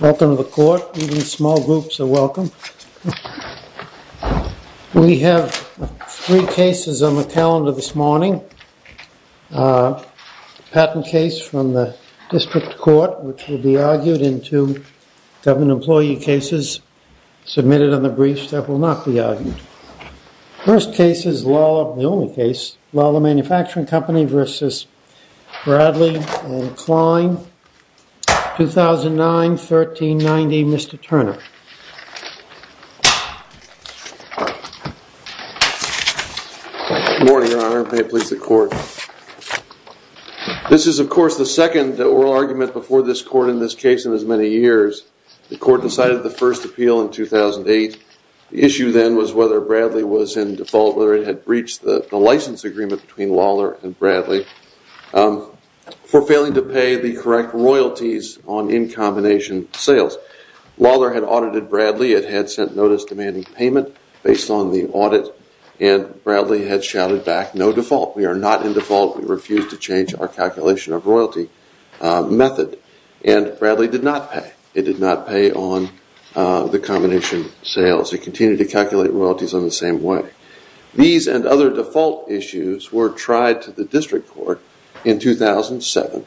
Welcome to the court. Even small groups are welcome. We have three cases on the calendar this morning. A patent case from the district court which will be argued into government employee cases submitted in the brief that will not be argued. First case is Lawler, a manufacturing company v. Bradley and Klein, 2009-1390. Mr. Turner. Good morning, your honor. May it please the court. This is of course the second oral argument before this court in this case in as many years. The court decided the first appeal in 2008. The issue then was whether Bradley was in default, whether it had breached the license agreement between Lawler and Bradley for failing to pay the correct royalties on in combination sales. Lawler had audited Bradley. It had sent notice demanding payment based on the audit and Bradley had shouted back no default. We are not in default. We refuse to change our calculation of royalty method and Bradley did not pay. It did not pay on the combination sales. It continued to calculate royalties on the same way. These and other default issues were tried to the district court in 2007.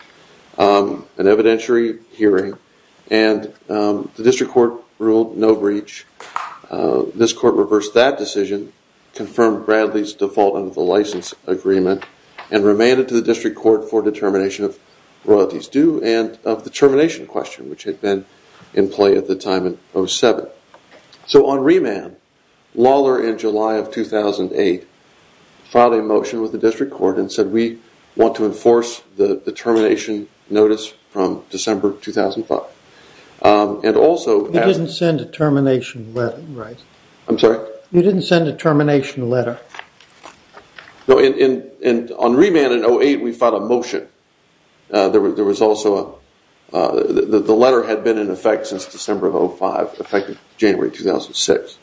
An evidentiary hearing and the district court ruled no breach. This court reversed that decision, confirmed Bradley's default on the license agreement and remanded to the district court for determination of royalties due and of the termination question which had been in play at the time in 2007. So on remand, Lawler in July of 2008 filed a motion with the district court and said we want to enforce the termination notice from December 2005 and also... You didn't send a termination letter, right? And on remand in 2008, we filed a motion. There was also... The letter had been in effect since December 2005, effective January 2006.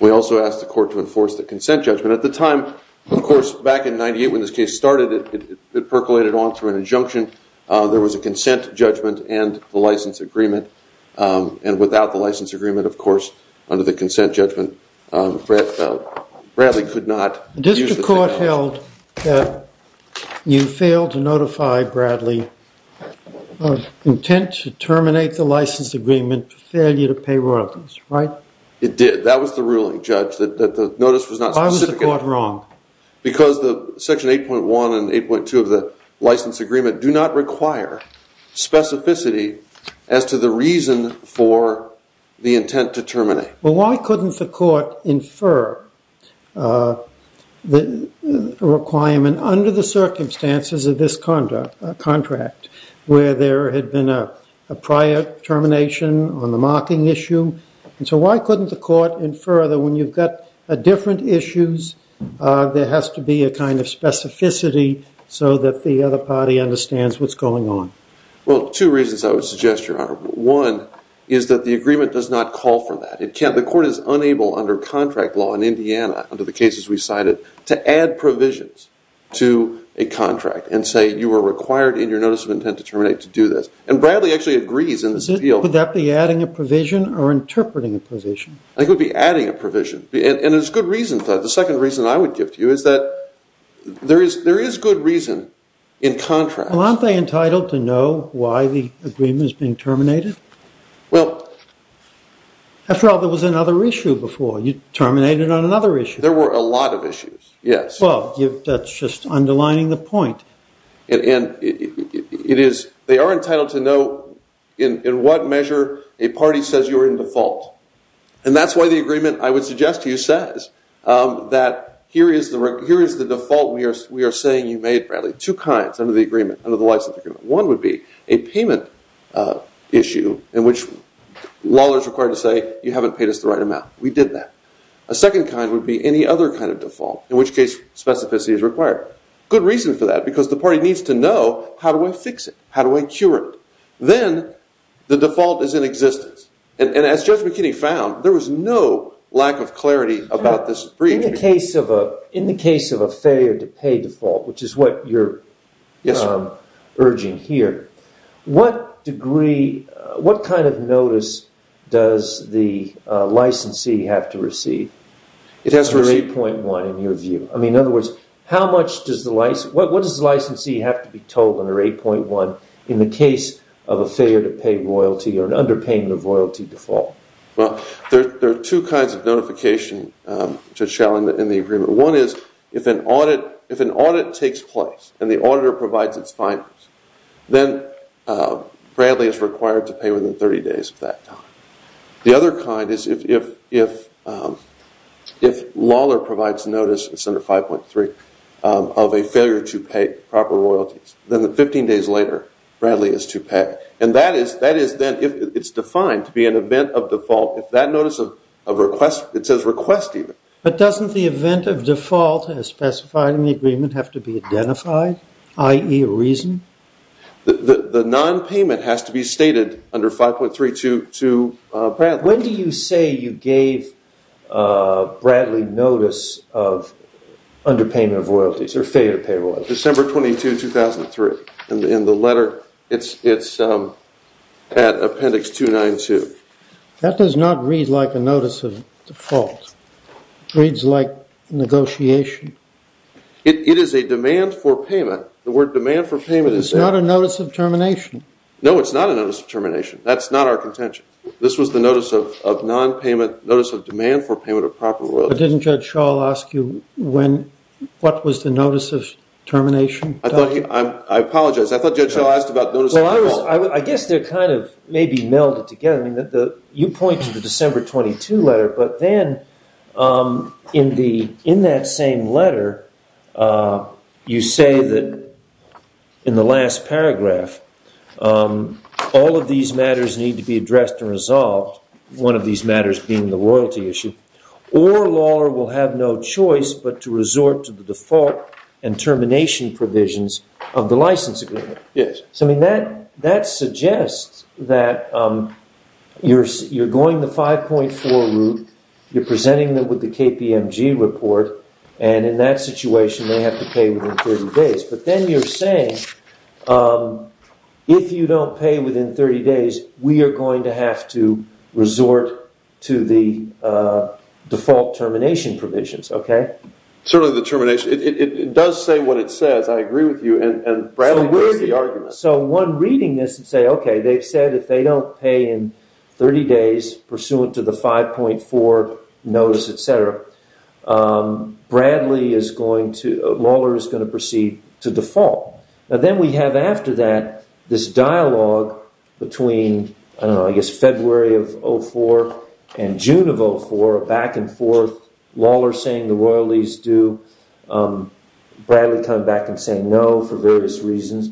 We also asked the court to enforce the consent judgment. At the time, of course, back in 98 when this case started, it percolated on through an injunction. There was a consent judgment and the license agreement and without the license agreement, of course, under the consent judgment, Bradley could not... The district court held that you failed to notify Bradley of intent to terminate the license agreement for failure to pay royalties, right? It did. That was the ruling, Judge, that the notice was not specific. Why was the court wrong? Because section 8.1 and 8.2 of the license agreement do not terminate. Well, why couldn't the court infer the requirement under the circumstances of this contract where there had been a prior termination on the marking issue? And so why couldn't the court infer that when you've got different issues, there has to be a kind of specificity so that the other party understands what's going on? Well, two reasons I would suggest, Your Honor. One is that the agreement does not call for that. The court is unable under contract law in Indiana under the cases we cited to add provisions to a contract and say you were required in your notice of intent to terminate to do this. And Bradley actually agrees in this appeal. Would that be adding a provision or interpreting a provision? I think it would be adding a provision. And there's good reasons for that. The second reason I would give to you is that there is good reason in contract. Well, aren't they entitled to know why the agreement is being terminated? After all, there was another issue before. You terminated on another issue. There were a lot of issues, yes. Well, that's just underlining the point. They are entitled to know in what measure a party says you are in default. And that's why the agreement I would suggest to you says that here is the default we are saying you made, Bradley. Two kinds under the license agreement. One would be a payment issue in which law is required to say you haven't paid us the right amount. We did that. A second kind would be any other kind of default, in which case specificity is required. Good reason for that because the party needs to know how do I fix it? How do I cure it? Then the default is in existence. And as Judge McKinney found, there was no lack of clarity about this brief. In the case of a failure to pay default, which is what you're urging here, what degree, what kind of notice does the what does the licensee have to be told under 8.1 in the case of a failure to pay royalty or an underpayment of royalty default? Well, there are two kinds of notification in the agreement. One is if an audit takes place and the auditor provides its findings then Bradley is required to pay within 30 days of that time. The other kind is if Lawler provides notice, it's under 5.3, of a failure to pay proper royalties, then 15 days later Bradley is to pay. And that is defined to be an event of default. If that notice of request, it says request even. But doesn't the event of default as specified in the agreement have to be identified, i.e. a reason? The non-payment has to be stated under 5.3 to Bradley. When do you say you gave Bradley notice of underpayment of royalties or failure to pay royalties? December 22, 2003. In the letter, it's at appendix 292. That does not read like a notice of default. It reads like negotiation. It is a demand for payment. The word demand for payment is there. It's not a notice of termination. No, it's not a notice of termination. That's not our contention. This was the notice of non-payment, notice of demand for payment of proper royalties. But didn't Judge Schall ask you what was the notice of termination? I apologize. I thought Judge Schall asked about notice of default. Well, I guess they're kind of maybe melded together. You point to the December 22 letter, but then in that same letter, you say that in the last paragraph, all of these matters need to be addressed and resolved, one of these matters being the royalty issue, or law will have no choice but to resort to the default and termination provisions of the license agreement. That suggests that you're going the 5.4 route, you're presenting them with the KPMG report, and in that situation, they have to pay within 30 days. But then you're saying, if you don't pay within 30 days, we are going to have to resort to the default termination provisions. Certainly the termination, it does say what it says, I agree with you. So one reading this would say, okay, they've said if they don't pay in 30 days, pursuant to the 5.4 notice, etc., Bradley is going to, Mauler is going to proceed to default. And then we have after that, this dialogue between, I don't know, I guess February of 2004 and June of 2004, back and forth, Lawler saying the royalties do, Bradley coming back and saying no for various reasons.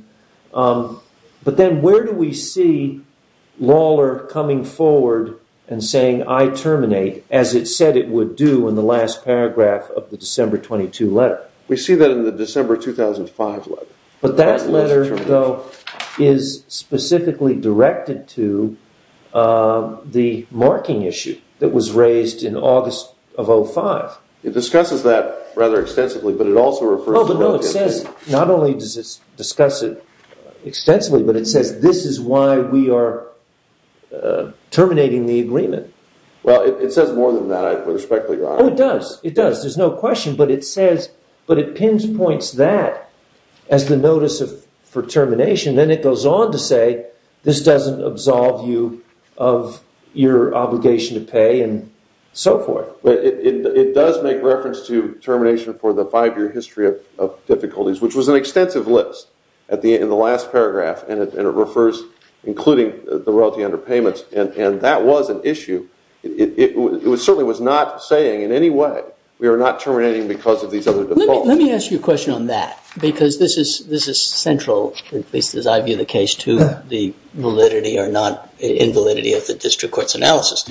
But then where do we see Lawler coming forward and saying, I terminate, as it said it would do in the last paragraph of the December 22 letter? We see that in the December 2005 letter. But that letter, though, is specifically directed to the marking issue that was raised in August of 2005. It discusses that rather extensively, but it also refers to... If it says more than that, I would respect your honor. Oh, it does. It does. There's no question, but it pinpoints that as the notice for termination. Then it goes on to say, this doesn't absolve you of your obligation to pay, and so forth. It does make reference to termination for the five-year history of difficulties, which was an extensive list in the last paragraph, and it refers, including the royalty under payments, and that was an issue. It certainly was not saying, in any way, we are not terminating because of these other defaults. Let me ask you a question on that, because this is central, at least as I view the case, to the validity or non-invalidity of the district court's analysis.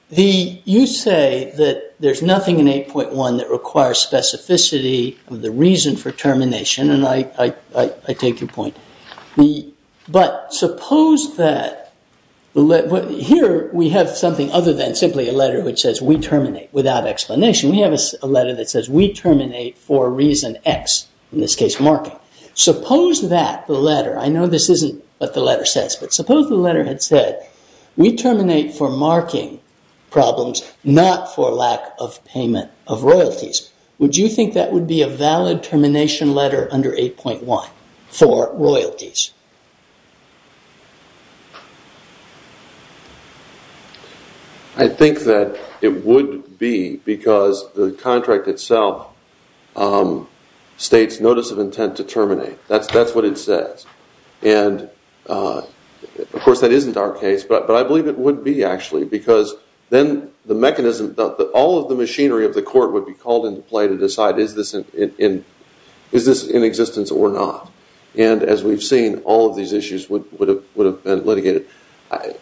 You say that there's nothing in 8.1 that requires specificity of the reason for termination, and I take your point. But suppose that... Here, we have something other than simply a letter which says, we terminate without explanation. We have a letter that says, we terminate for reason X, in this case, marking. Suppose that the letter... I know this isn't what the letter says, but suppose the letter had said, we terminate for marking problems, not for lack of payment of royalties. Would you think that would be a valid termination letter under 8.1 for royalties? I think that it would be, because the contract itself states notice of intent to terminate. That's what it says. Of course, that isn't our case, but I believe it would be, actually, because then the mechanism, all of the machinery of the court would be called into play to decide, is this in existence or not? And as we've seen, all of these issues would have been litigated.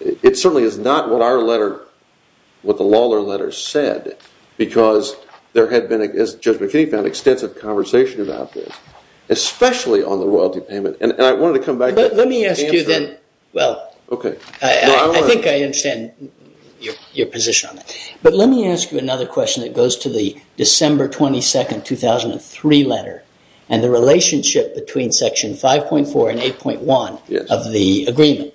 It certainly is not what our letter, what the Lawlor letter said, because there had been, as Judge McKinney found, extensive conversation about this, especially on the royalty payment. And I wanted to come back to... Well, I think I understand your position on that. But let me ask you another question that goes to the December 22, 2003 letter and the relationship between Section 5.4 and 8.1 of the agreement.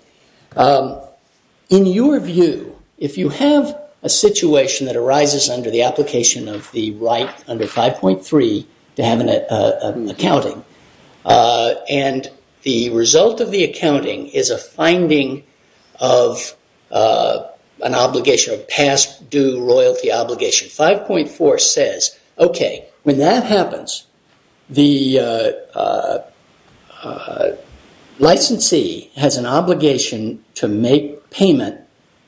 In your view, if you have a situation that arises under the application of the right under 5.3 to have an accounting, and the result of the accounting is a finding of an obligation, a past due royalty obligation, 5.4 says, okay, when that happens, the licensee has an obligation to make payment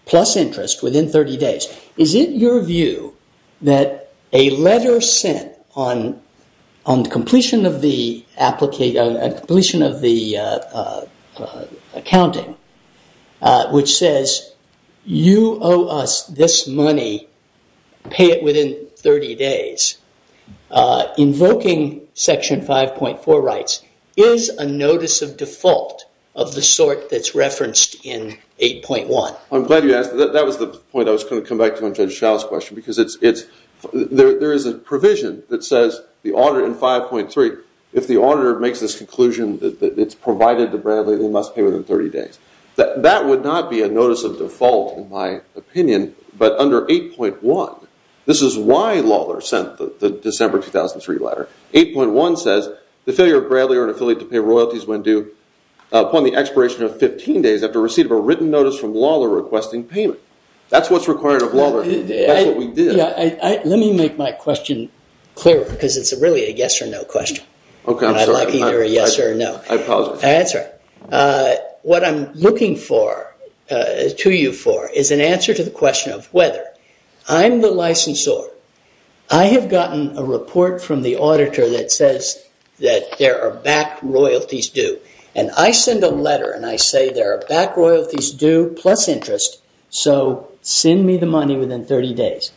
plus interest within 30 days. Is it your view that a letter sent on completion of the accounting, which says, you owe us this money, pay it within 30 days, invoking Section 5.4 rights, is a notice of default of the sort that's referenced in 8.1? I'm glad you asked that. That was the point I was going to come back to on Judge Schall's question, because there is a provision that says, in 5.3, if the auditor makes this conclusion that it's provided to Bradley, they must pay within 30 days. That would not be a notice of default, in my opinion, but under 8.1, this is why Lawlor sent the December 2003 letter, 8.1 says, the failure of Bradley or an affiliate to pay royalties when due upon the expiration of 15 days after receipt of a written notice from Lawlor requesting payment. That's what's required of Lawlor. That's what we did. Let me make my question clearer, because it's really a yes or no question. Okay, I'm sorry. I like either a yes or a no. I apologize. That's all right. What I'm looking to you for is an answer to the question of whether I'm the licensor, I have gotten a report from the auditor that says that there are back royalties due, and I send a letter and I say there are back royalties due plus interest, so send me the money within 30 days.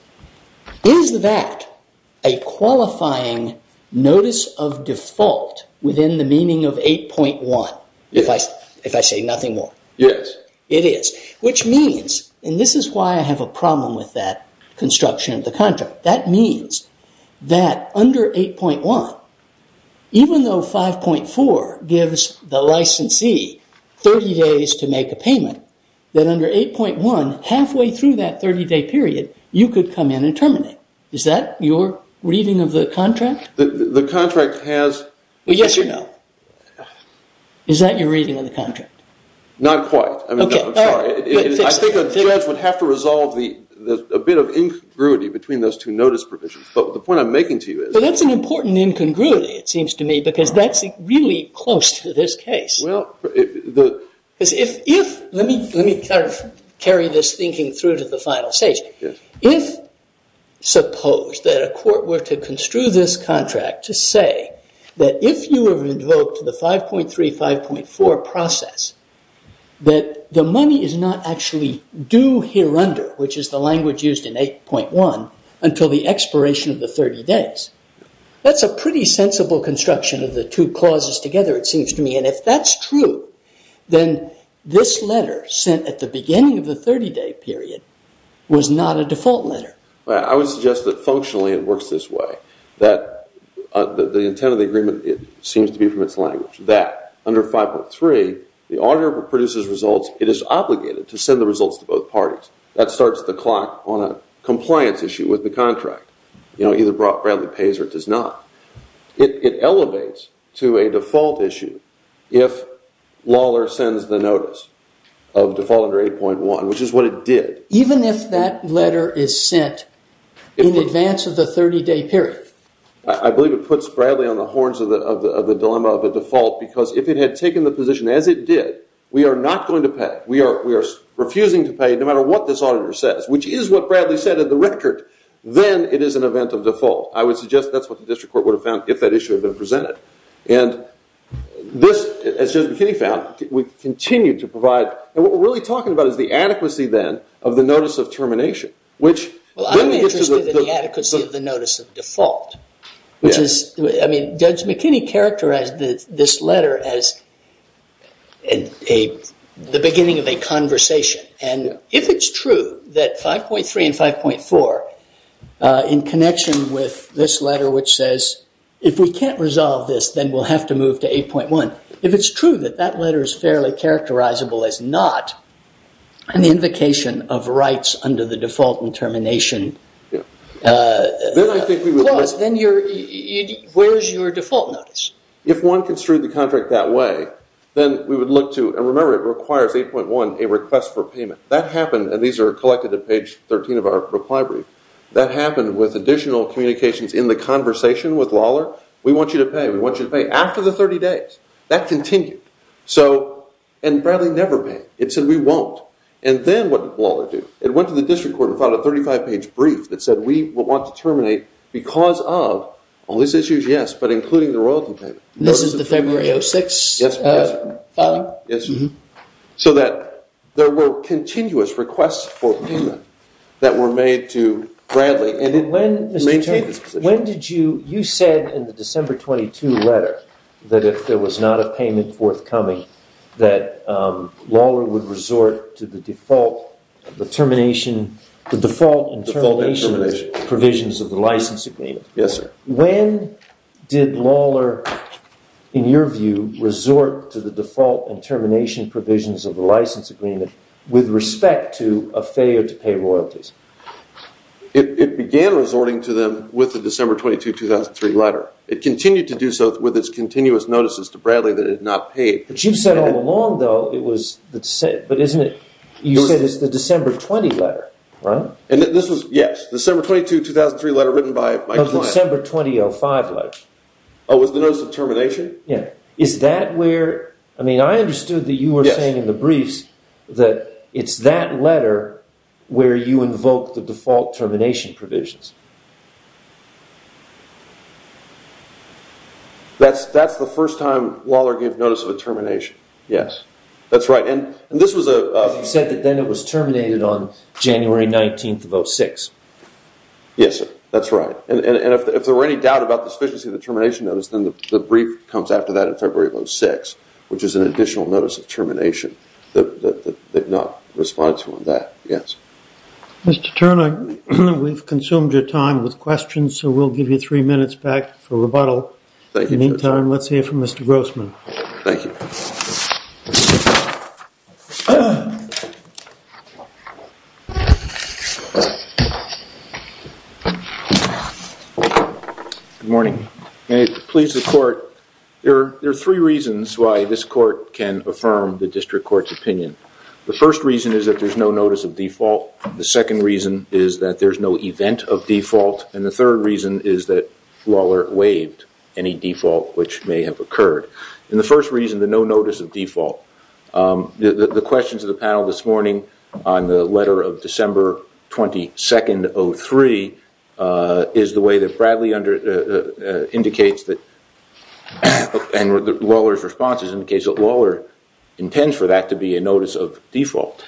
Is that a qualifying notice of default within the meaning of 8.1, if I say nothing more? Yes. It is, which means, and this is why I have a problem with that construction of the contract, that means that under 8.1, even though 5.4 gives the licensee 30 days to make a payment, that under 8.1, halfway through that 30-day period, you could come in and terminate. Is that your reading of the contract? The contract has… Yes or no? Not quite. Okay. I'm sorry. I think a judge would have to resolve a bit of incongruity between those two notice provisions, but the point I'm making to you is… Well, that's an important incongruity, it seems to me, because that's really close to this case. Well… Because if… Let me carry this thinking through to the final stage. Yes. If, suppose, that a court were to construe this contract to say that if you were invoked to the 5.3, 5.4 process, that the money is not actually due here under, which is the language used in 8.1, until the expiration of the 30 days, that's a pretty sensible construction of the two clauses together, it seems to me, and if that's true, then this letter sent at the beginning of the 30-day period was not a default letter. I would suggest that functionally it works this way, that the intent of the agreement, it seems to be from its language, that under 5.3, the auditor produces results, it is obligated to send the results to both parties. That starts the clock on a compliance issue with the contract. You know, either Bradley pays or it does not. It elevates to a default issue if Lawler sends the notice of default under 8.1, which is what it did. Even if that letter is sent in advance of the 30-day period? I believe it puts Bradley on the horns of the dilemma of a default, because if it had taken the position as it did, we are not going to pay, we are refusing to pay no matter what this auditor says, which is what Bradley said in the record, then it is an event of default. I would suggest that's what the district court would have found if that issue had been presented. And this, as Judge McKinney found, we continue to provide, and what we're really talking about is the adequacy then of the notice of termination, which then gets to the adequacy of the notice of default, which is, I mean, Judge McKinney characterized this letter as the beginning of a conversation. And if it's true that 5.3 and 5.4, in connection with this letter which says, if we can't resolve this, then we'll have to move to 8.1, if it's true that that letter is fairly characterizable as not an invocation of rights under the default and termination clause, then where is your default notice? If one construed the contract that way, then we would look to, and remember it requires 8.1, a request for payment. That happened, and these are collected at page 13 of our reply brief, that happened with additional communications in the conversation with Lawler, we want you to pay, we want you to pay, after the 30 days. That continued. So, and Bradley never paid. It said we won't. And then what did Lawler do? It went to the district court and filed a 35-page brief that said, we want to terminate because of all these issues, yes, but including the royalty payment. This is the February 06 filing? Yes. So that there were continuous requests for payment that were made to Bradley. And when did you, you said in the December 22 letter that if there was not a payment forthcoming, that Lawler would resort to the default determination, the default and termination provisions of the license agreement. Yes, sir. When did Lawler, in your view, resort to the default and termination provisions of the license agreement with respect to a failure to pay royalties? It began resorting to them with the December 22, 2003 letter. It continued to do so with its continuous notices to Bradley that it had not paid. But you've said all along, though, it was, but isn't it, you said it's the December 20 letter, right? And this was, yes, December 22, 2003 letter written by my client. No, the December 2005 letter. Oh, with the notice of termination? Yes. Is that where, I mean, I understood that you were saying in the briefs that it's that letter where you invoke the default termination provisions. That's the first time Lawler gave notice of a termination. Yes. That's right. And this was a... Because you said that then it was terminated on January 19th of 06. Yes, sir. That's right. And if there were any doubt about the sufficiency of the termination notice, then the brief comes after that in February of 06, which is an additional notice of termination that did not respond to on that. Yes. Mr. Turner, we've consumed your time. With questions, we'll give you three minutes back for rebuttal. Thank you. In the meantime, let's hear from Mr. Grossman. Thank you. Good morning. May it please the court, there are three reasons why this court can affirm the district court's opinion. The first reason is that there's no notice of default. The second reason is that there's no event of default. And the third reason is that Lawler waived any default which may have occurred. And the first reason, the no notice of default. The questions of the panel this morning on the letter of December 22nd, 03, is the way that Bradley indicates that... and Lawler's responses indicates that Lawler intends for that to be a notice of default.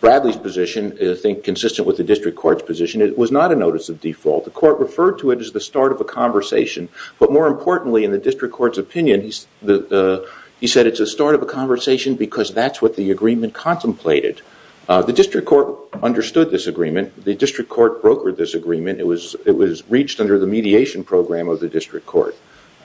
Bradley's position, I think consistent with the district court's position, it was not a notice of default. The court referred to it as the start of a conversation. But more importantly, in the district court's opinion, he said it's a start of a conversation because that's what the agreement contemplated. The district court understood this agreement. The district court brokered this agreement. It was reached under the mediation program of the district court.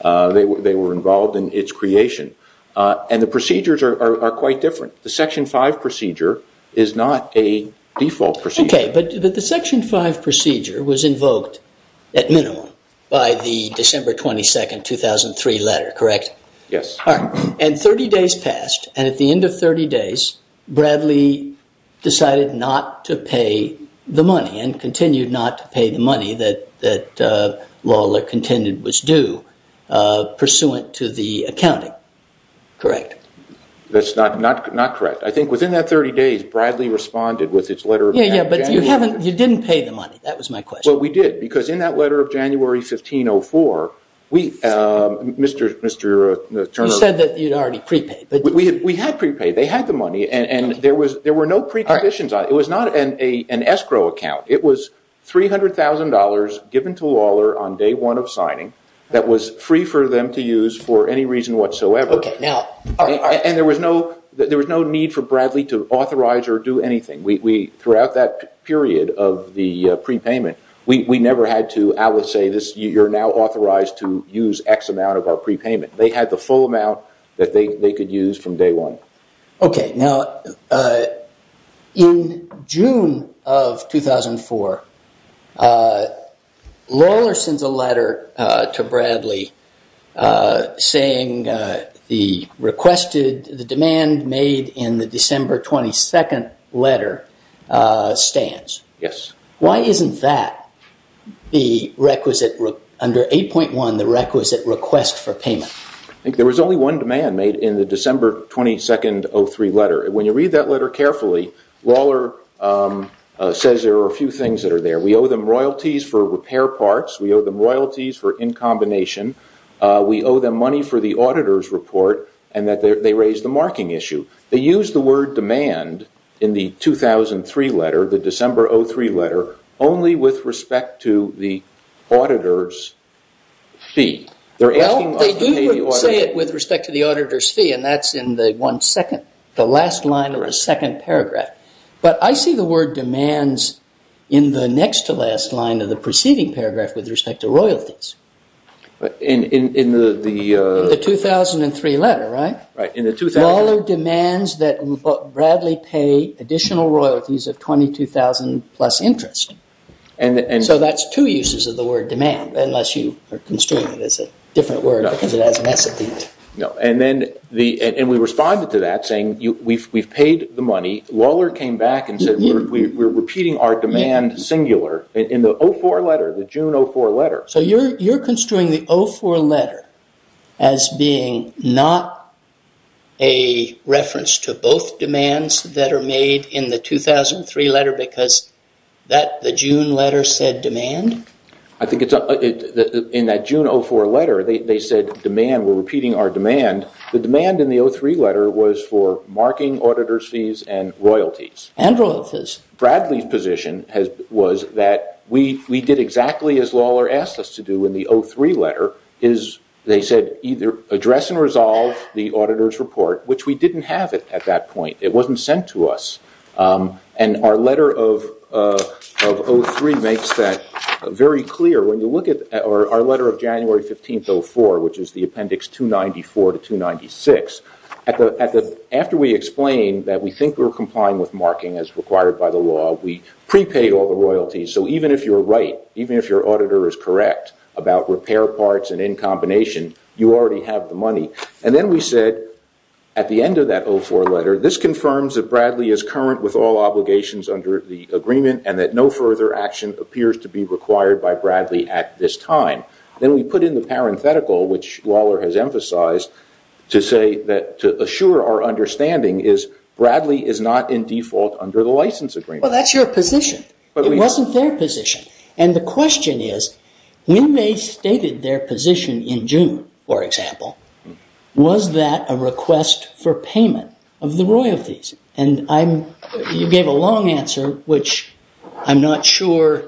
They were involved in its creation. And the procedures are quite different. The Section 5 procedure is not a default procedure. Okay. But the Section 5 procedure was invoked at minimum by the December 22nd, 2003 letter, correct? Yes. All right. And 30 days passed. And at the end of 30 days, Bradley decided not to pay the money and continued not to pay the money that Lawler contended was due pursuant to the accounting, correct? That's not correct. I think within that 30 days, Bradley responded with its letter of January. Yeah, yeah, but you didn't pay the money. That was my question. Well, we did because in that letter of January 1504, we, Mr. Turner. You said that you'd already prepaid. We had prepaid. They had the money. And there were no preconditions on it. It was not an escrow account. It was $300,000 given to Lawler on day one of signing that was free for them to use for any reason whatsoever. And there was no need for Bradley to authorize or do anything. Throughout that period of the prepayment, we never had to, I would say, you're now authorized to use X amount of our prepayment. They had the full amount that they could use from day one. Okay. Now, in June of 2004, Lawler sends a letter to Bradley saying the demand made in the December 22nd letter stands. Yes. Why isn't that, under 8.1, the requisite request for payment? There was only one demand made in the December 22nd 03 letter. When you read that letter carefully, Lawler says there are a few things that are there. We owe them royalties for repair parts. We owe them royalties for in combination. We owe them money for the auditor's report and that they raised the marking issue. They used the word demand in the 2003 letter, the December 03 letter, only with respect to the auditor's fee. Well, they do say it with respect to the auditor's fee, and that's in the last line or a second paragraph. But I see the word demands in the next to last line of the preceding paragraph with respect to royalties. In the 2003 letter, right? Right. Lawler demands that Bradley pay additional royalties of $22,000 plus interest. So that's two uses of the word demand, unless you are construing it as a different word because it has an S at the end. No. And we responded to that saying we've paid the money. Lawler came back and said we're repeating our demand singular in the 04 letter, the June 04 letter. So you're construing the 04 letter as being not a reference to both demands that are made in the 2003 letter because the June letter said demand? I think in that June 04 letter they said demand, we're repeating our demand. The demand in the 03 letter was for marking auditor's fees and royalties. And royalties. Bradley's position was that we did exactly as Lawler asked us to do in the 03 letter. They said either address and resolve the auditor's report, which we didn't have at that point. It wasn't sent to us. And our letter of 03 makes that very clear. When you look at our letter of January 15, 04, which is the appendix 294 to 296, after we explain that we think we're complying with marking as required by the law, we prepaid all the royalties. So even if you're right, even if your auditor is correct about repair parts and in combination, you already have the money. And then we said at the end of that 04 letter, this confirms that Bradley is current with all obligations under the agreement and that no further action appears to be required by Bradley at this time. Then we put in the parenthetical, which Lawler has emphasized to say that to assure our understanding is Bradley is not in default under the license agreement. Well, that's your position. It wasn't their position. And the question is, when they stated their position in June, for example, was that a request for payment of the royalties? And you gave a long answer, which I'm not sure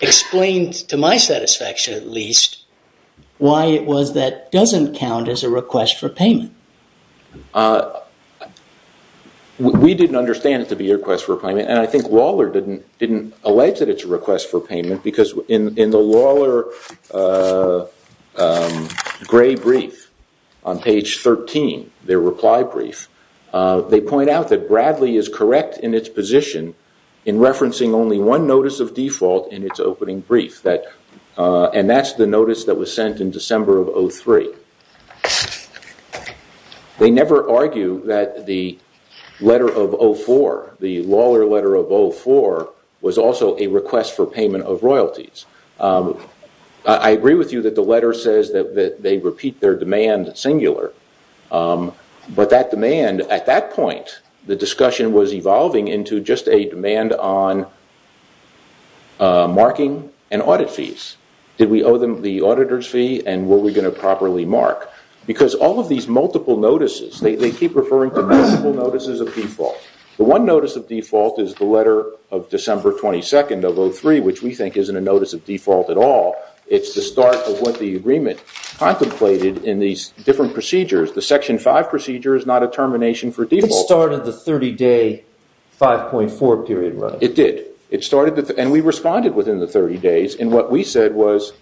explains, to my satisfaction at least, why it was that doesn't count as a request for payment. We didn't understand it to be a request for payment. And I think Lawler didn't allege that it's a request for payment because in the Lawler gray brief on page 13, their reply brief, they point out that Bradley is correct in its position in referencing only one notice of default in its opening brief. And that's the notice that was sent in December of 03. They never argue that the letter of 04, the Lawler letter of 04, was also a request for payment of royalties. I agree with you that the letter says that they repeat their demand singular. But that demand, at that point, the discussion was evolving into just a demand on marking and audit fees. Did we owe them the auditor's fee? And were we going to properly mark? Because all of these multiple notices, they keep referring to multiple notices of default. The one notice of default is the letter of December 22nd of 03, which we think isn't a notice of default at all. It's the start of what the agreement contemplated in these different procedures. The Section 5 procedure is not a termination for default. It started the 30-day 5.4 period, right? It did. And we responded within the 30 days. And what we said was,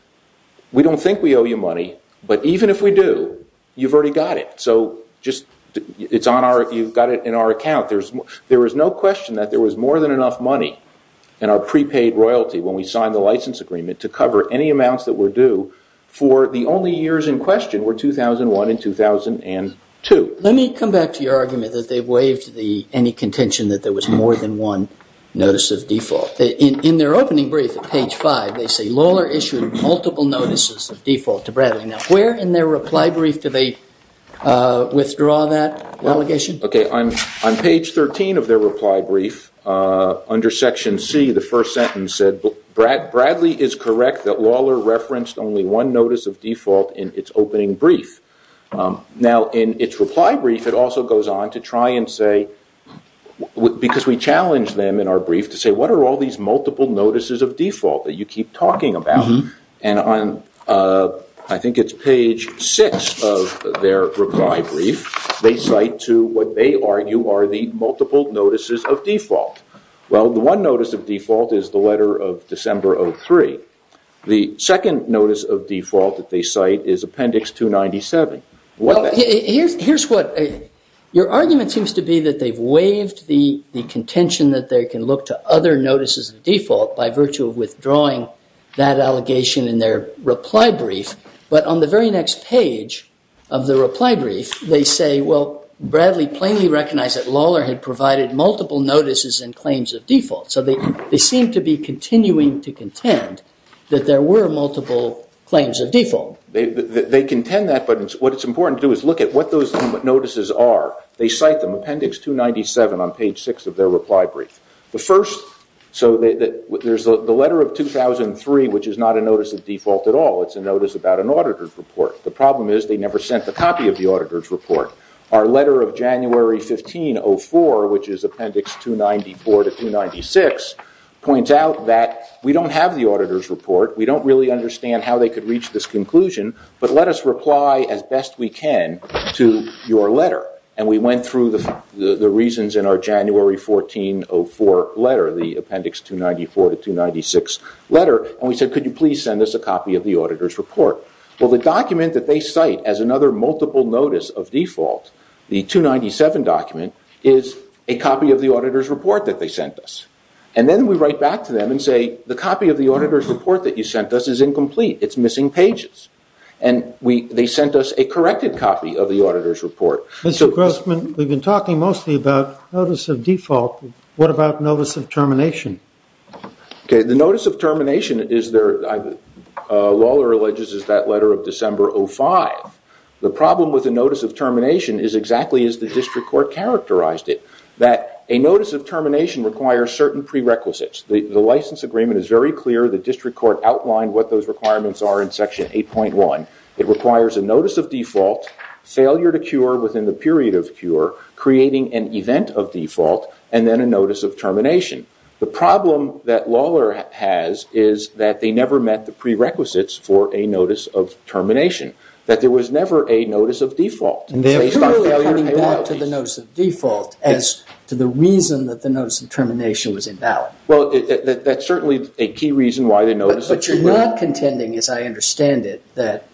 we don't think we owe you money. But even if we do, you've already got it. So you've got it in our account. There is no question that there was more than enough money in our prepaid royalty when we signed the license agreement to cover any amounts that were due for the only years in question were 2001 and 2002. Let me come back to your argument that they waived any contention that there was more than one notice of default. In their opening brief at page 5, they say, Lohler issued multiple notices of default to Bradley. Now, where in their reply brief do they withdraw that allegation? On page 13 of their reply brief, under Section C, the first sentence said, Bradley is correct that Lohler referenced only one notice of default in its opening brief. Now, in its reply brief, it also goes on to try and say, because we challenged them in our brief to say, what are all these multiple notices of default that you keep talking about? And on, I think it's page 6 of their reply brief, they cite to what they argue are the multiple notices of default. Well, the one notice of default is the letter of December 03. The second notice of default that they cite is Appendix 297. Your argument seems to be that they've waived the contention that they can look to other notices of default by virtue of withdrawing that allegation in their reply brief. But on the very next page of the reply brief, they say, well, Bradley plainly recognized that Lohler had provided multiple notices and claims of default. So they seem to be continuing to contend that there were multiple claims of default. They contend that, but what it's important to do is look at what those notices are. They cite them, Appendix 297 on page 6 of their reply brief. So there's the letter of 2003, which is not a notice of default at all. It's a notice about an auditor's report. The problem is they never sent the copy of the auditor's report. Our letter of January 1504, which is Appendix 294 to 296, points out that we don't have the auditor's report. We don't really understand how they could reach this conclusion, but let us reply as best we can to your letter. And we went through the reasons in our January 1404 letter, the Appendix 294 to 296 letter, and we said, could you please send us a copy of the auditor's report? Well, the document that they cite as another multiple notice of default, the 297 document, is a copy of the auditor's report that they sent us. And then we write back to them and say, the copy of the auditor's report that you sent us is incomplete. It's missing pages. And they sent us a corrected copy of the auditor's report. Mr. Grossman, we've been talking mostly about notice of default. What about notice of termination? The notice of termination is there. Lawler alleges it's that letter of December 05. The problem with the notice of termination is exactly as the district court characterized it, that a notice of termination requires certain prerequisites. The license agreement is very clear. The district court outlined what those requirements are in Section 8.1. It requires a notice of default, failure to cure within the period of cure, creating an event of default, and then a notice of termination. The problem that Lawler has is that they never met the prerequisites for a notice of termination, that there was never a notice of default. And they're clearly coming back to the notice of default as to the reason that the notice of termination was invalid. Well, that's certainly a key reason why the notice of termination was invalid. We're not contending, as I understand it, that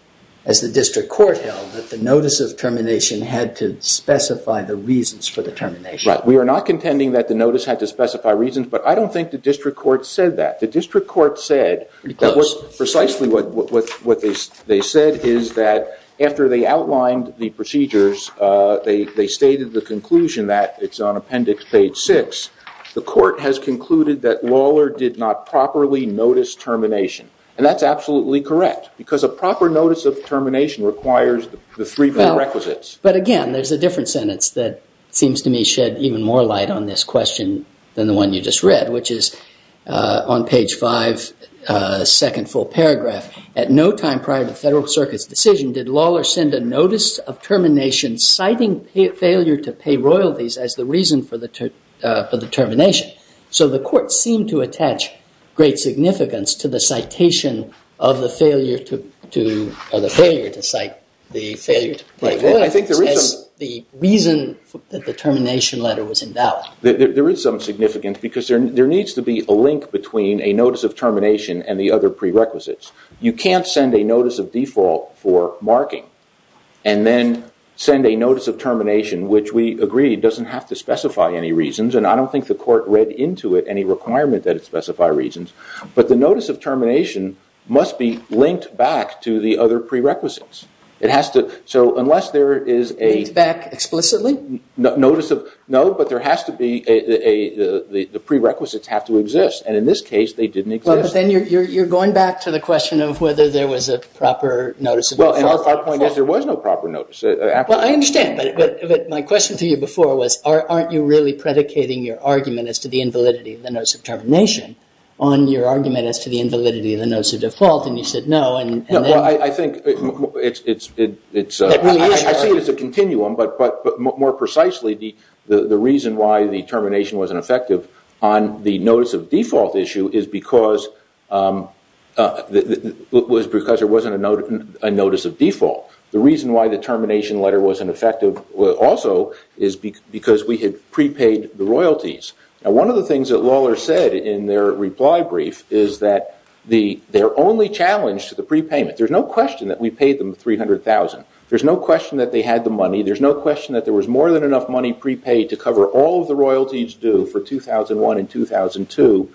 as the district court held, that the notice of termination had to specify the reasons for the termination. Right. We are not contending that the notice had to specify reasons, but I don't think the district court said that. The district court said that precisely what they said is that after they outlined the procedures, they stated the conclusion that it's on Appendix Page 6, the court has concluded that Lawler did not properly notice termination. And that's absolutely correct, because a proper notice of termination requires the three prerequisites. But again, there's a different sentence that seems to me shed even more light on this question than the one you just read, which is on Page 5, second full paragraph. At no time prior to the Federal Circuit's decision did Lawler send a notice of termination citing failure to pay royalties as the reason for the termination. So the court seemed to attach great significance to the citation of the failure to pay royalties as the reason that the termination letter was invalid. There is some significance, because there needs to be a link between a notice of termination and the other prerequisites. You can't send a notice of default for marking, and then send a notice of termination, which we agree doesn't have to specify any reasons. And I don't think the court read into it any requirement that it specify reasons. But the notice of termination must be linked back to the other prerequisites. It has to, so unless there is a... Linked back explicitly? Notice of, no, but there has to be a, the prerequisites have to exist. And in this case, they didn't exist. Well, but then you're going back to the question of whether there was a proper notice of default. Well, and our point is there was no proper notice. Well, I understand, but my question to you before was, aren't you really predicating your argument as to the invalidity of the notice of termination on your argument as to the invalidity of the notice of default? And you said no, and then... Well, I think it's... It really is... I see it as a continuum, but more precisely, the reason why the termination wasn't effective on the notice of default issue is because there wasn't a notice of default. The reason why the termination letter wasn't effective also is because we had prepaid the royalties. Now, one of the things that Lawler said in their reply brief is that their only challenge to the prepayment, there's no question that we paid them $300,000. to cover all of the royalties due for 2001 and 2002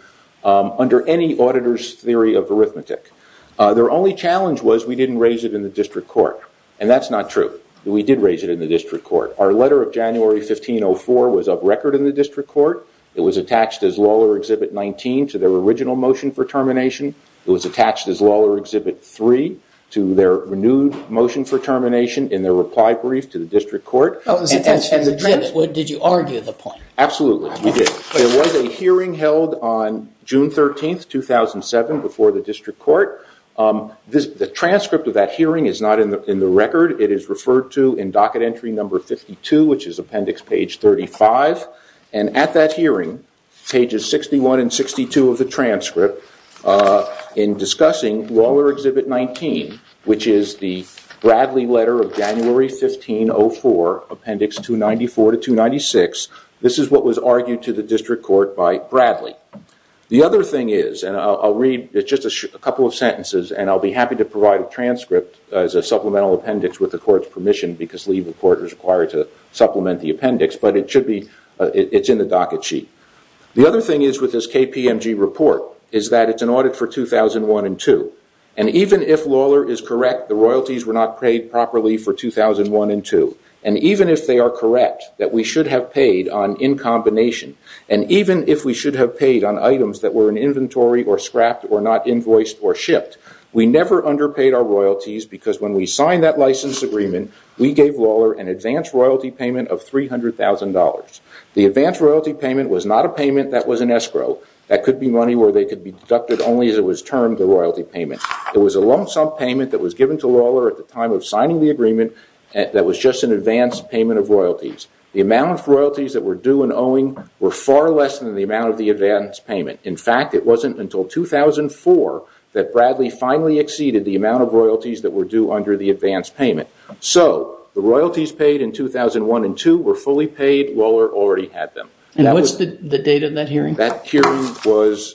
under any auditor's theory of arithmetic. Their only challenge was we didn't raise it in the district court, and that's not true. We did raise it in the district court. Our letter of January 1504 was up record in the district court. It was attached as Lawler Exhibit 19 to their original motion for termination. It was attached as Lawler Exhibit 3 to their renewed motion for termination in their reply brief to the district court. Did you argue the point? Absolutely, we did. There was a hearing held on June 13, 2007 before the district court. The transcript of that hearing is not in the record. It is referred to in docket entry number 52, which is appendix page 35. And at that hearing, pages 61 and 62 of the transcript, in discussing Lawler Exhibit 19, which is the Bradley letter of January 1504, appendix 294 to 296, this is what was argued to the district court by Bradley. The other thing is, and I'll read just a couple of sentences, and I'll be happy to provide a transcript as a supplemental appendix with the court's permission because legal court is required to supplement the appendix, but it's in the docket sheet. The other thing is with this KPMG report is that it's an audit for 2001 and 2002. And even if Lawler is correct, the royalties were not paid properly for 2001 and 2002. And even if they are correct, that we should have paid on in combination, and even if we should have paid on items that were in inventory or scrapped or not invoiced or shipped, we never underpaid our royalties because when we signed that license agreement, we gave Lawler an advance royalty payment of $300,000. The advance royalty payment was not a payment that was an escrow. That could be money where they could be deducted only as it was termed the royalty payment. It was a lump sum payment that was given to Lawler at the time of signing the agreement that was just an advance payment of royalties. The amount of royalties that were due in owing were far less than the amount of the advance payment. In fact, it wasn't until 2004 that Bradley finally exceeded the amount of royalties that were due under the advance payment. So the royalties paid in 2001 and 2002 were fully paid. Lawler already had them. And what's the date of that hearing? That hearing was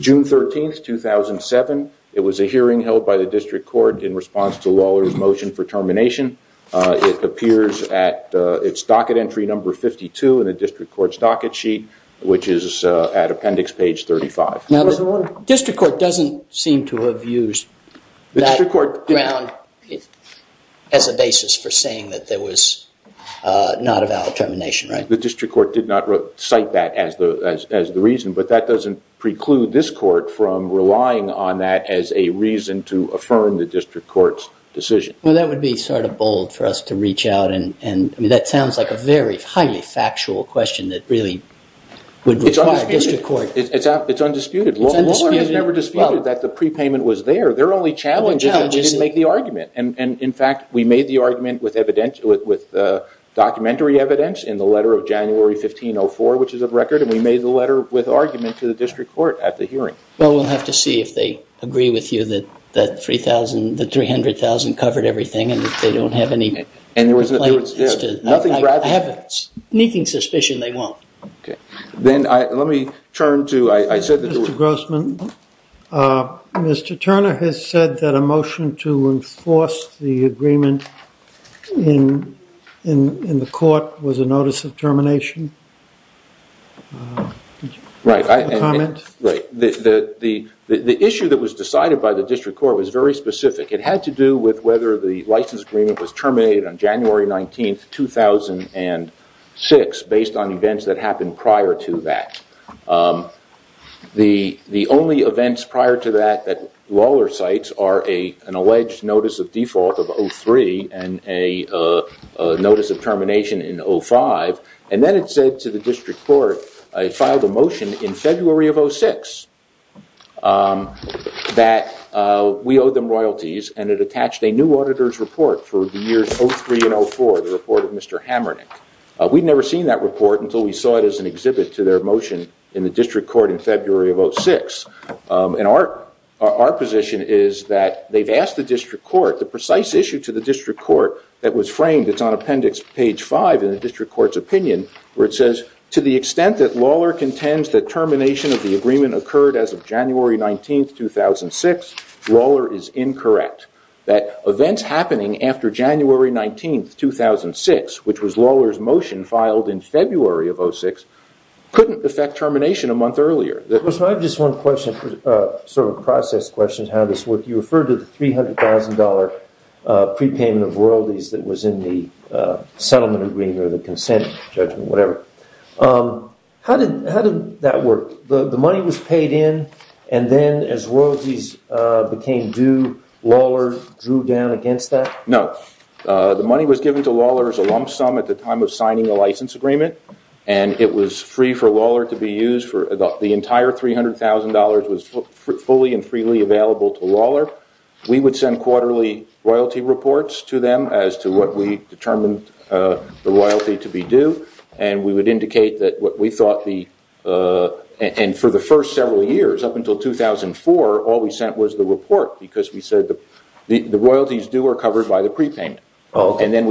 June 13, 2007. It was a hearing held by the district court in response to Lawler's motion for termination. It appears at its docket entry number 52 in the district court's docket sheet, which is at appendix page 35. District court doesn't seem to have used that ground as a basis for saying that there was not a valid termination, right? The district court did not cite that as the reason. But that doesn't preclude this court from relying on that as a reason to affirm the district court's decision. Well, that would be sort of bold for us to reach out. I mean, that sounds like a very highly factual question that really would require a district court. It's undisputed. It's undisputed. Lawler has never disputed that the prepayment was there. Their only challenge is that they didn't make the argument. And, in fact, we made the argument with documentary evidence in the letter of January 1504, which is of record. And we made the letter with argument to the district court at the hearing. Well, we'll have to see if they agree with you that the $300,000 covered everything and that they don't have any complaint. I have a sneaking suspicion they won't. Okay. Then let me turn to – Mr. Grossman, Mr. Turner has said that a motion to enforce the agreement in the court was a notice of termination. Right. The issue that was decided by the district court was very specific. It had to do with whether the license agreement was terminated on January 19, 2006, based on events that happened prior to that. The only events prior to that that Lawler cites are an alleged notice of default of 03 and a notice of termination in 05. And then it said to the district court, it filed a motion in February of 06, that we owe them royalties. And it attached a new auditor's report for the years 03 and 04, the report of Mr. Hamernick. We'd never seen that report until we saw it as an exhibit to their motion in the district court in February of 06. And our position is that they've asked the district court, the precise issue to the district court that was framed, it's on appendix page 5 in the district court's opinion, where it says, to the extent that Lawler contends that termination of the agreement occurred as of January 19, 2006, Lawler is incorrect. That events happening after January 19, 2006, which was Lawler's motion filed in February of 06, couldn't affect termination a month earlier. I have just one question, sort of a process question, how this worked. You referred to the $300,000 prepayment of royalties that was in the settlement agreement or the consent judgment, whatever. How did that work? So the money was paid in and then as royalties became due, Lawler drew down against that? No. The money was given to Lawler as a lump sum at the time of signing the license agreement. And it was free for Lawler to be used for the entire $300,000 was fully and freely available to Lawler. We would send quarterly royalty reports to them as to what we determined the royalty to be due. And for the first several years, up until 2004, all we sent was the report because we said the royalties due were covered by the prepayment. But the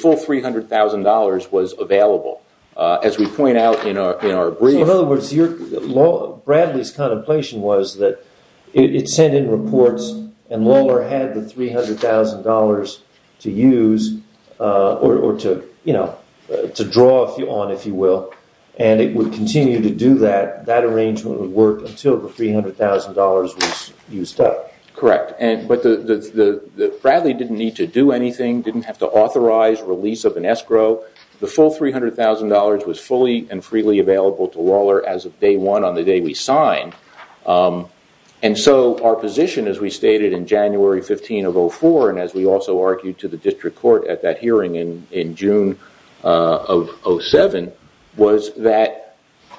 full $300,000 was available. So in other words, Bradley's contemplation was that it sent in reports and Lawler had the $300,000 to use or to draw on, if you will. And it would continue to do that, that arrangement would work until the $300,000 was used up. Correct. But Bradley didn't need to do anything, didn't have to authorize release of an escrow. The full $300,000 was fully and freely available to Lawler as of day one on the day we signed. And so our position, as we stated in January 15 of 04, and as we also argued to the district court at that hearing in June of 07, was that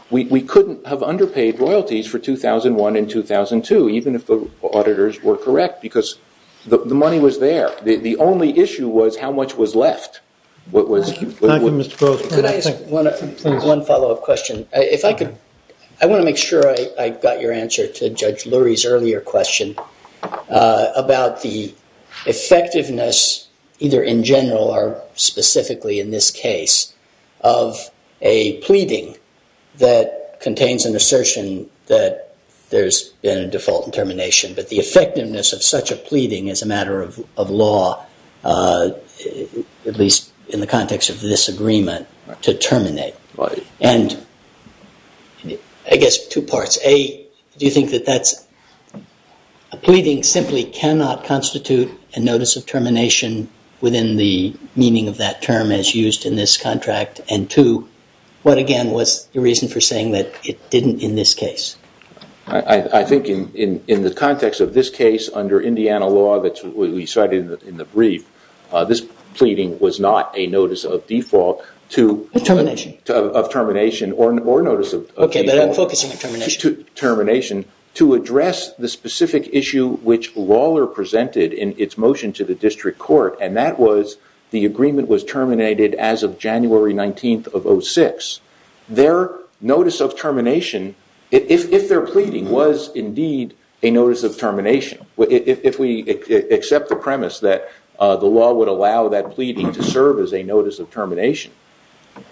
we couldn't have underpaid royalties for 2001 and 2002, even if the auditors were correct, because the money was there. The only issue was how much was left. Could I ask one follow-up question? I want to make sure I got your answer to Judge Lurie's earlier question about the effectiveness, either in general or specifically in this case, of a pleading that contains an assertion that there's been a default and termination, but the effectiveness of such a pleading as a matter of law, at least in the context of this agreement, to terminate. And I guess two parts. A, do you think that that's a pleading simply cannot constitute a notice of termination within the meaning of that term as used in this contract? And two, what again was the reason for saying that it didn't in this case? I think in the context of this case, under Indiana law that we cited in the brief, this pleading was not a notice of default. Of termination. Of termination, or notice of default. Okay, but I'm focusing on termination. Termination, to address the specific issue which Lawler presented in its motion to the district court, and that was the agreement was terminated as of January 19 of 06. Their notice of termination, if their pleading was indeed a notice of termination, if we accept the premise that the law would allow that pleading to serve as a notice of termination.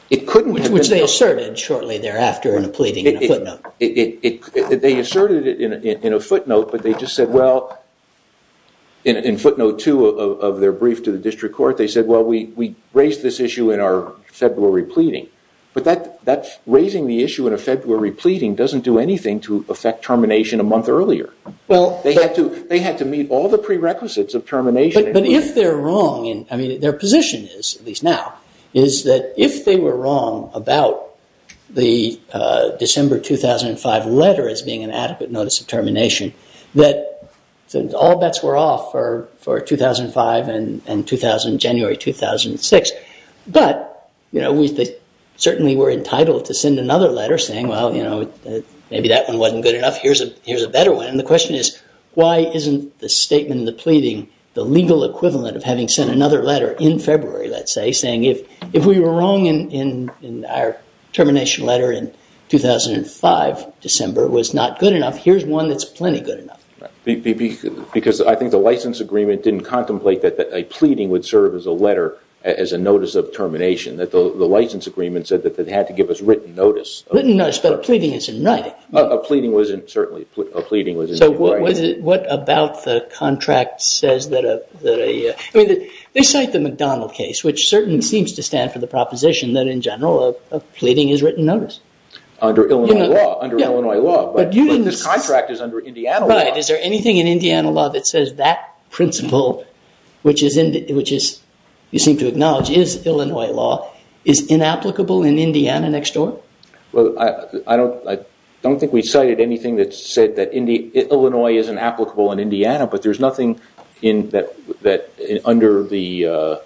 Which they asserted shortly thereafter in a pleading in a footnote. They asserted it in a footnote, but they just said, well, in footnote two of their brief to the district court, they said, well, we raised this issue in our February pleading. But raising the issue in a February pleading doesn't do anything to affect termination a month earlier. They had to meet all the prerequisites of termination. But if they're wrong, I mean, their position is, at least now, is that if they were wrong about the December 2005 letter as being an adequate notice of termination, that all bets were off for 2005 and January 2006. But, you know, we certainly were entitled to send another letter saying, well, you know, maybe that one wasn't good enough, here's a better one. And the question is, why isn't the statement, the pleading, the legal equivalent of having sent another letter in February, let's say, saying if we were wrong in our termination letter in 2005 December was not good enough, here's one that's plenty good enough. Because I think the license agreement didn't contemplate that a pleading would serve as a letter, as a notice of termination, that the license agreement said that it had to give us written notice. Written notice, but a pleading is in writing. A pleading was in, certainly, a pleading was in writing. So what about the contract says that a, I mean, they cite the McDonald case, which certainly seems to stand for the proposition that in general a pleading is written notice. Under Illinois law, under Illinois law. But this contract is under Indiana law. Right. Is there anything in Indiana law that says that principle, which is, you seem to acknowledge, is Illinois law, is inapplicable in Indiana next door? Well, I don't think we cited anything that said that Illinois isn't applicable in Indiana, but there's nothing under the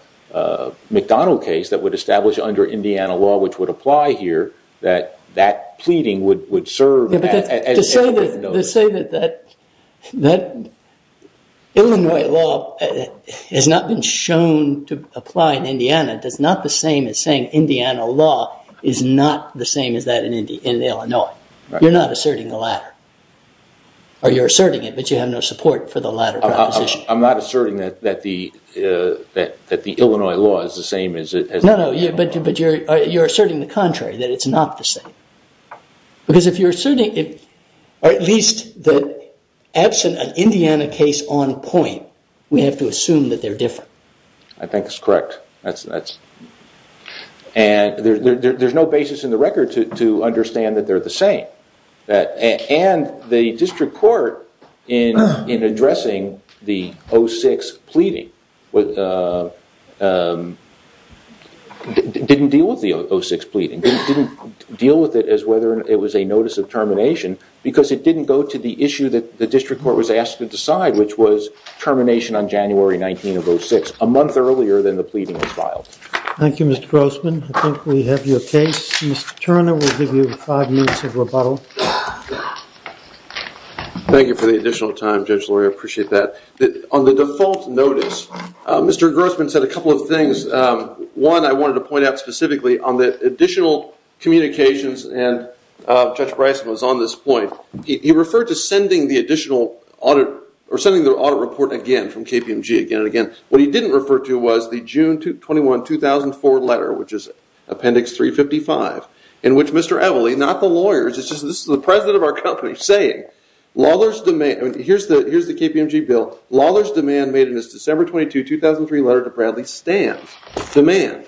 McDonald case that would establish under Indiana law, which would apply here, that that pleading would serve as a written notice. To say that Illinois law has not been shown to apply in Indiana is not the same as saying Indiana law is not the same as that in Illinois. You're not asserting the latter. Or you're asserting it, but you have no support for the latter proposition. I'm not asserting that the Illinois law is the same as it is. No, no, but you're asserting the contrary, that it's not the same. Because if you're asserting it, or at least that absent an Indiana case on point, we have to assume that they're different. I think it's correct. And there's no basis in the record to understand that they're the same. And the district court, in addressing the 06 pleading, didn't deal with the 06 pleading. It didn't deal with it as whether it was a notice of termination, because it didn't go to the issue that the district court was asked to decide, which was termination on January 19 of 06, a month earlier than the pleading was filed. Thank you, Mr. Grossman. I think we have your case. Mr. Turner will give you five minutes of rebuttal. Thank you for the additional time, Judge Lurie. I appreciate that. On the default notice, Mr. Grossman said a couple of things. One, I wanted to point out specifically on the additional communications, and Judge Bryson was on this point, he referred to sending the audit report again from KPMG again and again. What he didn't refer to was the June 21, 2004 letter, which is Appendix 355, in which Mr. Evelley, not the lawyers, this is the president of our company, saying Lawler's demand, here's the KPMG bill, Lawler's demand made in his December 22, 2003 letter to Bradley stands. Demand.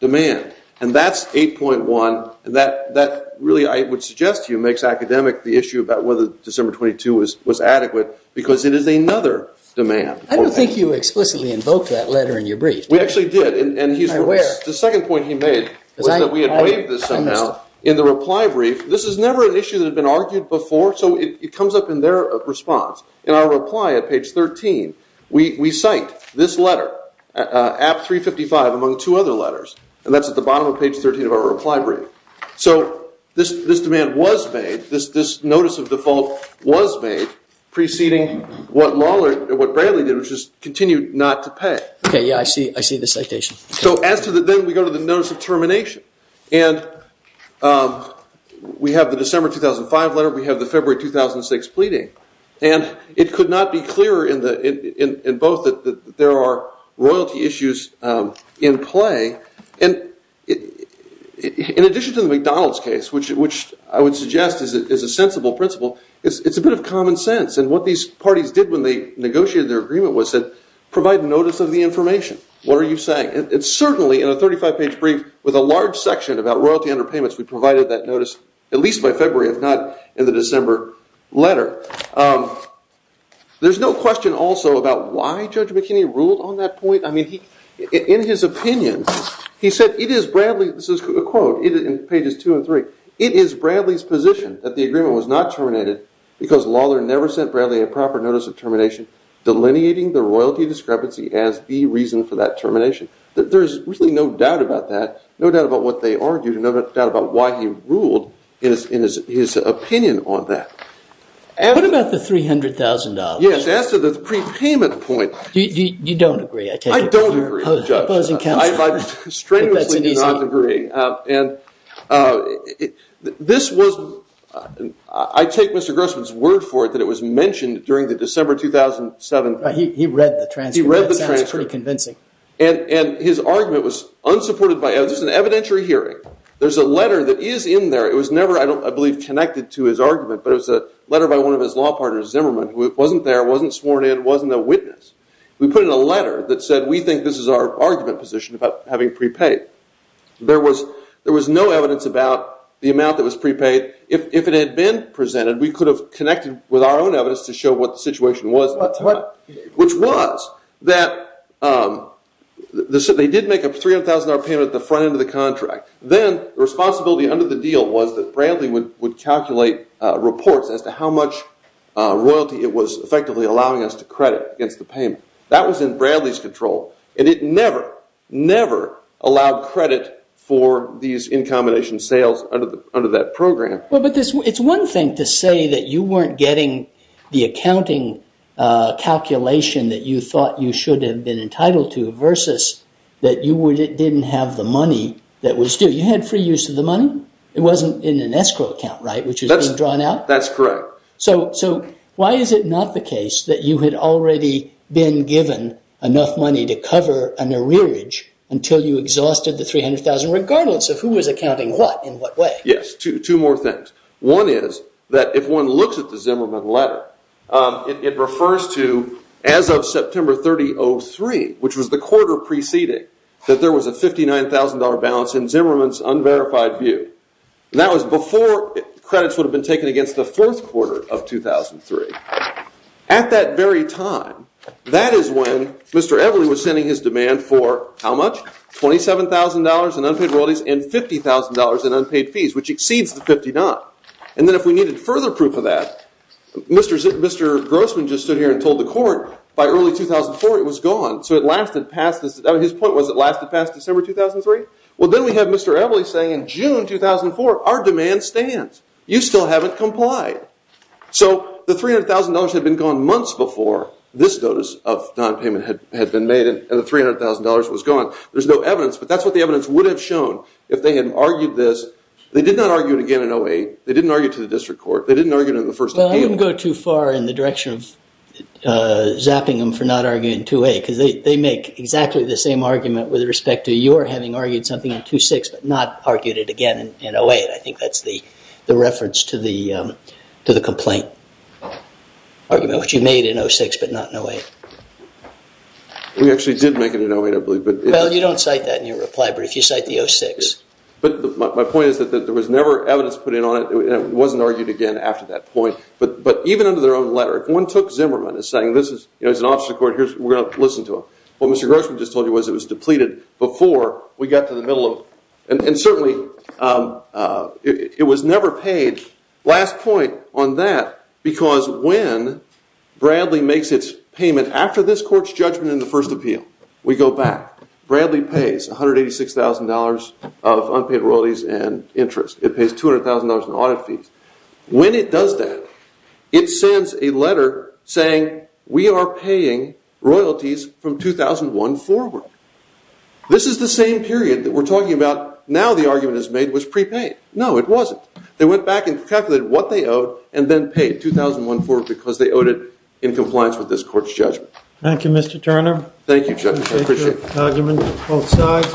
Demand. And that's 8.1, and that really, I would suggest to you, makes academic the issue about whether December 22 was adequate, because it is another demand. I don't think you explicitly invoked that letter in your brief. We actually did. The second point he made was that we had waived this somehow in the reply brief. This is never an issue that had been argued before, so it comes up in their response. In our reply at page 13, we cite this letter, App 355, among two other letters, and that's at the bottom of page 13 of our reply brief. So this demand was made, this notice of default was made, preceding what Bradley did, which is continue not to pay. Okay, yeah, I see the citation. So then we go to the notice of termination, and we have the December 2005 letter, we have the February 2006 pleading, and it could not be clearer in both that there are royalty issues in play, and in addition to the McDonald's case, which I would suggest is a sensible principle, it's a bit of common sense. And what these parties did when they negotiated their agreement was provide notice of the information. What are you saying? And certainly in a 35-page brief with a large section about royalty under payments, we provided that notice at least by February, if not in the December letter. There's no question also about why Judge McKinney ruled on that point. I mean, in his opinion, he said, it is Bradley, this is a quote in pages 2 and 3, it is Bradley's position that the agreement was not terminated because Lawlor never sent Bradley a proper notice of termination, delineating the royalty discrepancy as the reason for that termination. There's really no doubt about that, no doubt about what they argued, no doubt about why he ruled in his opinion on that. What about the $300,000? Yes, as to the prepayment point. You don't agree, I take it. I don't agree, Judge. Opposing counsel. I strenuously do not agree. I take Mr. Grossman's word for it that it was mentioned during the December 2007. He read the transcript. He read the transcript. That sounds pretty convincing. And his argument was unsupported by evidence. It was an evidentiary hearing. There's a letter that is in there. It was never, I believe, connected to his argument, but it was a letter by one of his law partners, Zimmerman, who wasn't there, wasn't sworn in, wasn't a witness. We put in a letter that said, we think this is our argument position about having prepaid. There was no evidence about the amount that was prepaid. If it had been presented, we could have connected with our own evidence to show what the situation was, which was that they did make a $300,000 payment at the front end of the contract. Then the responsibility under the deal was that Bradley would calculate reports as to how much royalty it was effectively allowing us to credit against the payment. That was in Bradley's control, and it never, never allowed credit for these in combination sales under that program. Well, but it's one thing to say that you weren't getting the accounting calculation that you thought you should have been entitled to versus that you didn't have the money that was due. You had free use of the money. It wasn't in an escrow account, right, which has been drawn out? That's correct. So why is it not the case that you had already been given enough money to cover an arrearage until you exhausted the $300,000, regardless of who was accounting what in what way? Yes, two more things. One is that if one looks at the Zimmerman letter, it refers to as of September 3003, which was the quarter preceding that there was a $59,000 balance in Zimmerman's unverified view. That was before credits would have been taken against the fourth quarter of 2003. At that very time, that is when Mr. Evelley was sending his demand for how much? $27,000 in unpaid royalties and $50,000 in unpaid fees, which exceeds the $59,000. And then if we needed further proof of that, Mr. Grossman just stood here and told the court by early 2004 it was gone, so it lasted past this. His point was it lasted past December 2003? Well, then we have Mr. Evelley saying in June 2004 our demand stands. You still haven't complied. So the $300,000 had been gone months before this notice of nonpayment had been made and the $300,000 was gone. There's no evidence, but that's what the evidence would have shown if they had argued this. They did not argue it again in 08. They didn't argue it to the district court. They didn't argue it in the first appeal. Well, I wouldn't go too far in the direction of zapping them for not arguing it in 08 because they make exactly the same argument with respect to your having argued something in 06 but not argued it again in 08. I think that's the reference to the complaint argument, which you made in 06 but not in 08. We actually did make it in 08, I believe. Well, you don't cite that in your reply, but if you cite the 06. But my point is that there was never evidence put in on it and it wasn't argued again after that point. But even under their own letter, if one took Zimmerman as saying this is an officer court, we're going to listen to him, what Mr. Grossman just told you was it was depleted before we got to the middle of it. And certainly it was never paid. Last point on that, because when Bradley makes its payment after this court's judgment in the first appeal, we go back, Bradley pays $186,000 of unpaid royalties and interest. It pays $200,000 in audit fees. When it does that, it sends a letter saying we are paying royalties from 2001 forward. This is the same period that we're talking about now the argument is made was prepaid. No, it wasn't. They went back and calculated what they owed and then paid 2001 forward because they owed it in compliance with this court's judgment. Thank you, Mr. Turner. Thank you, Judge. I appreciate it.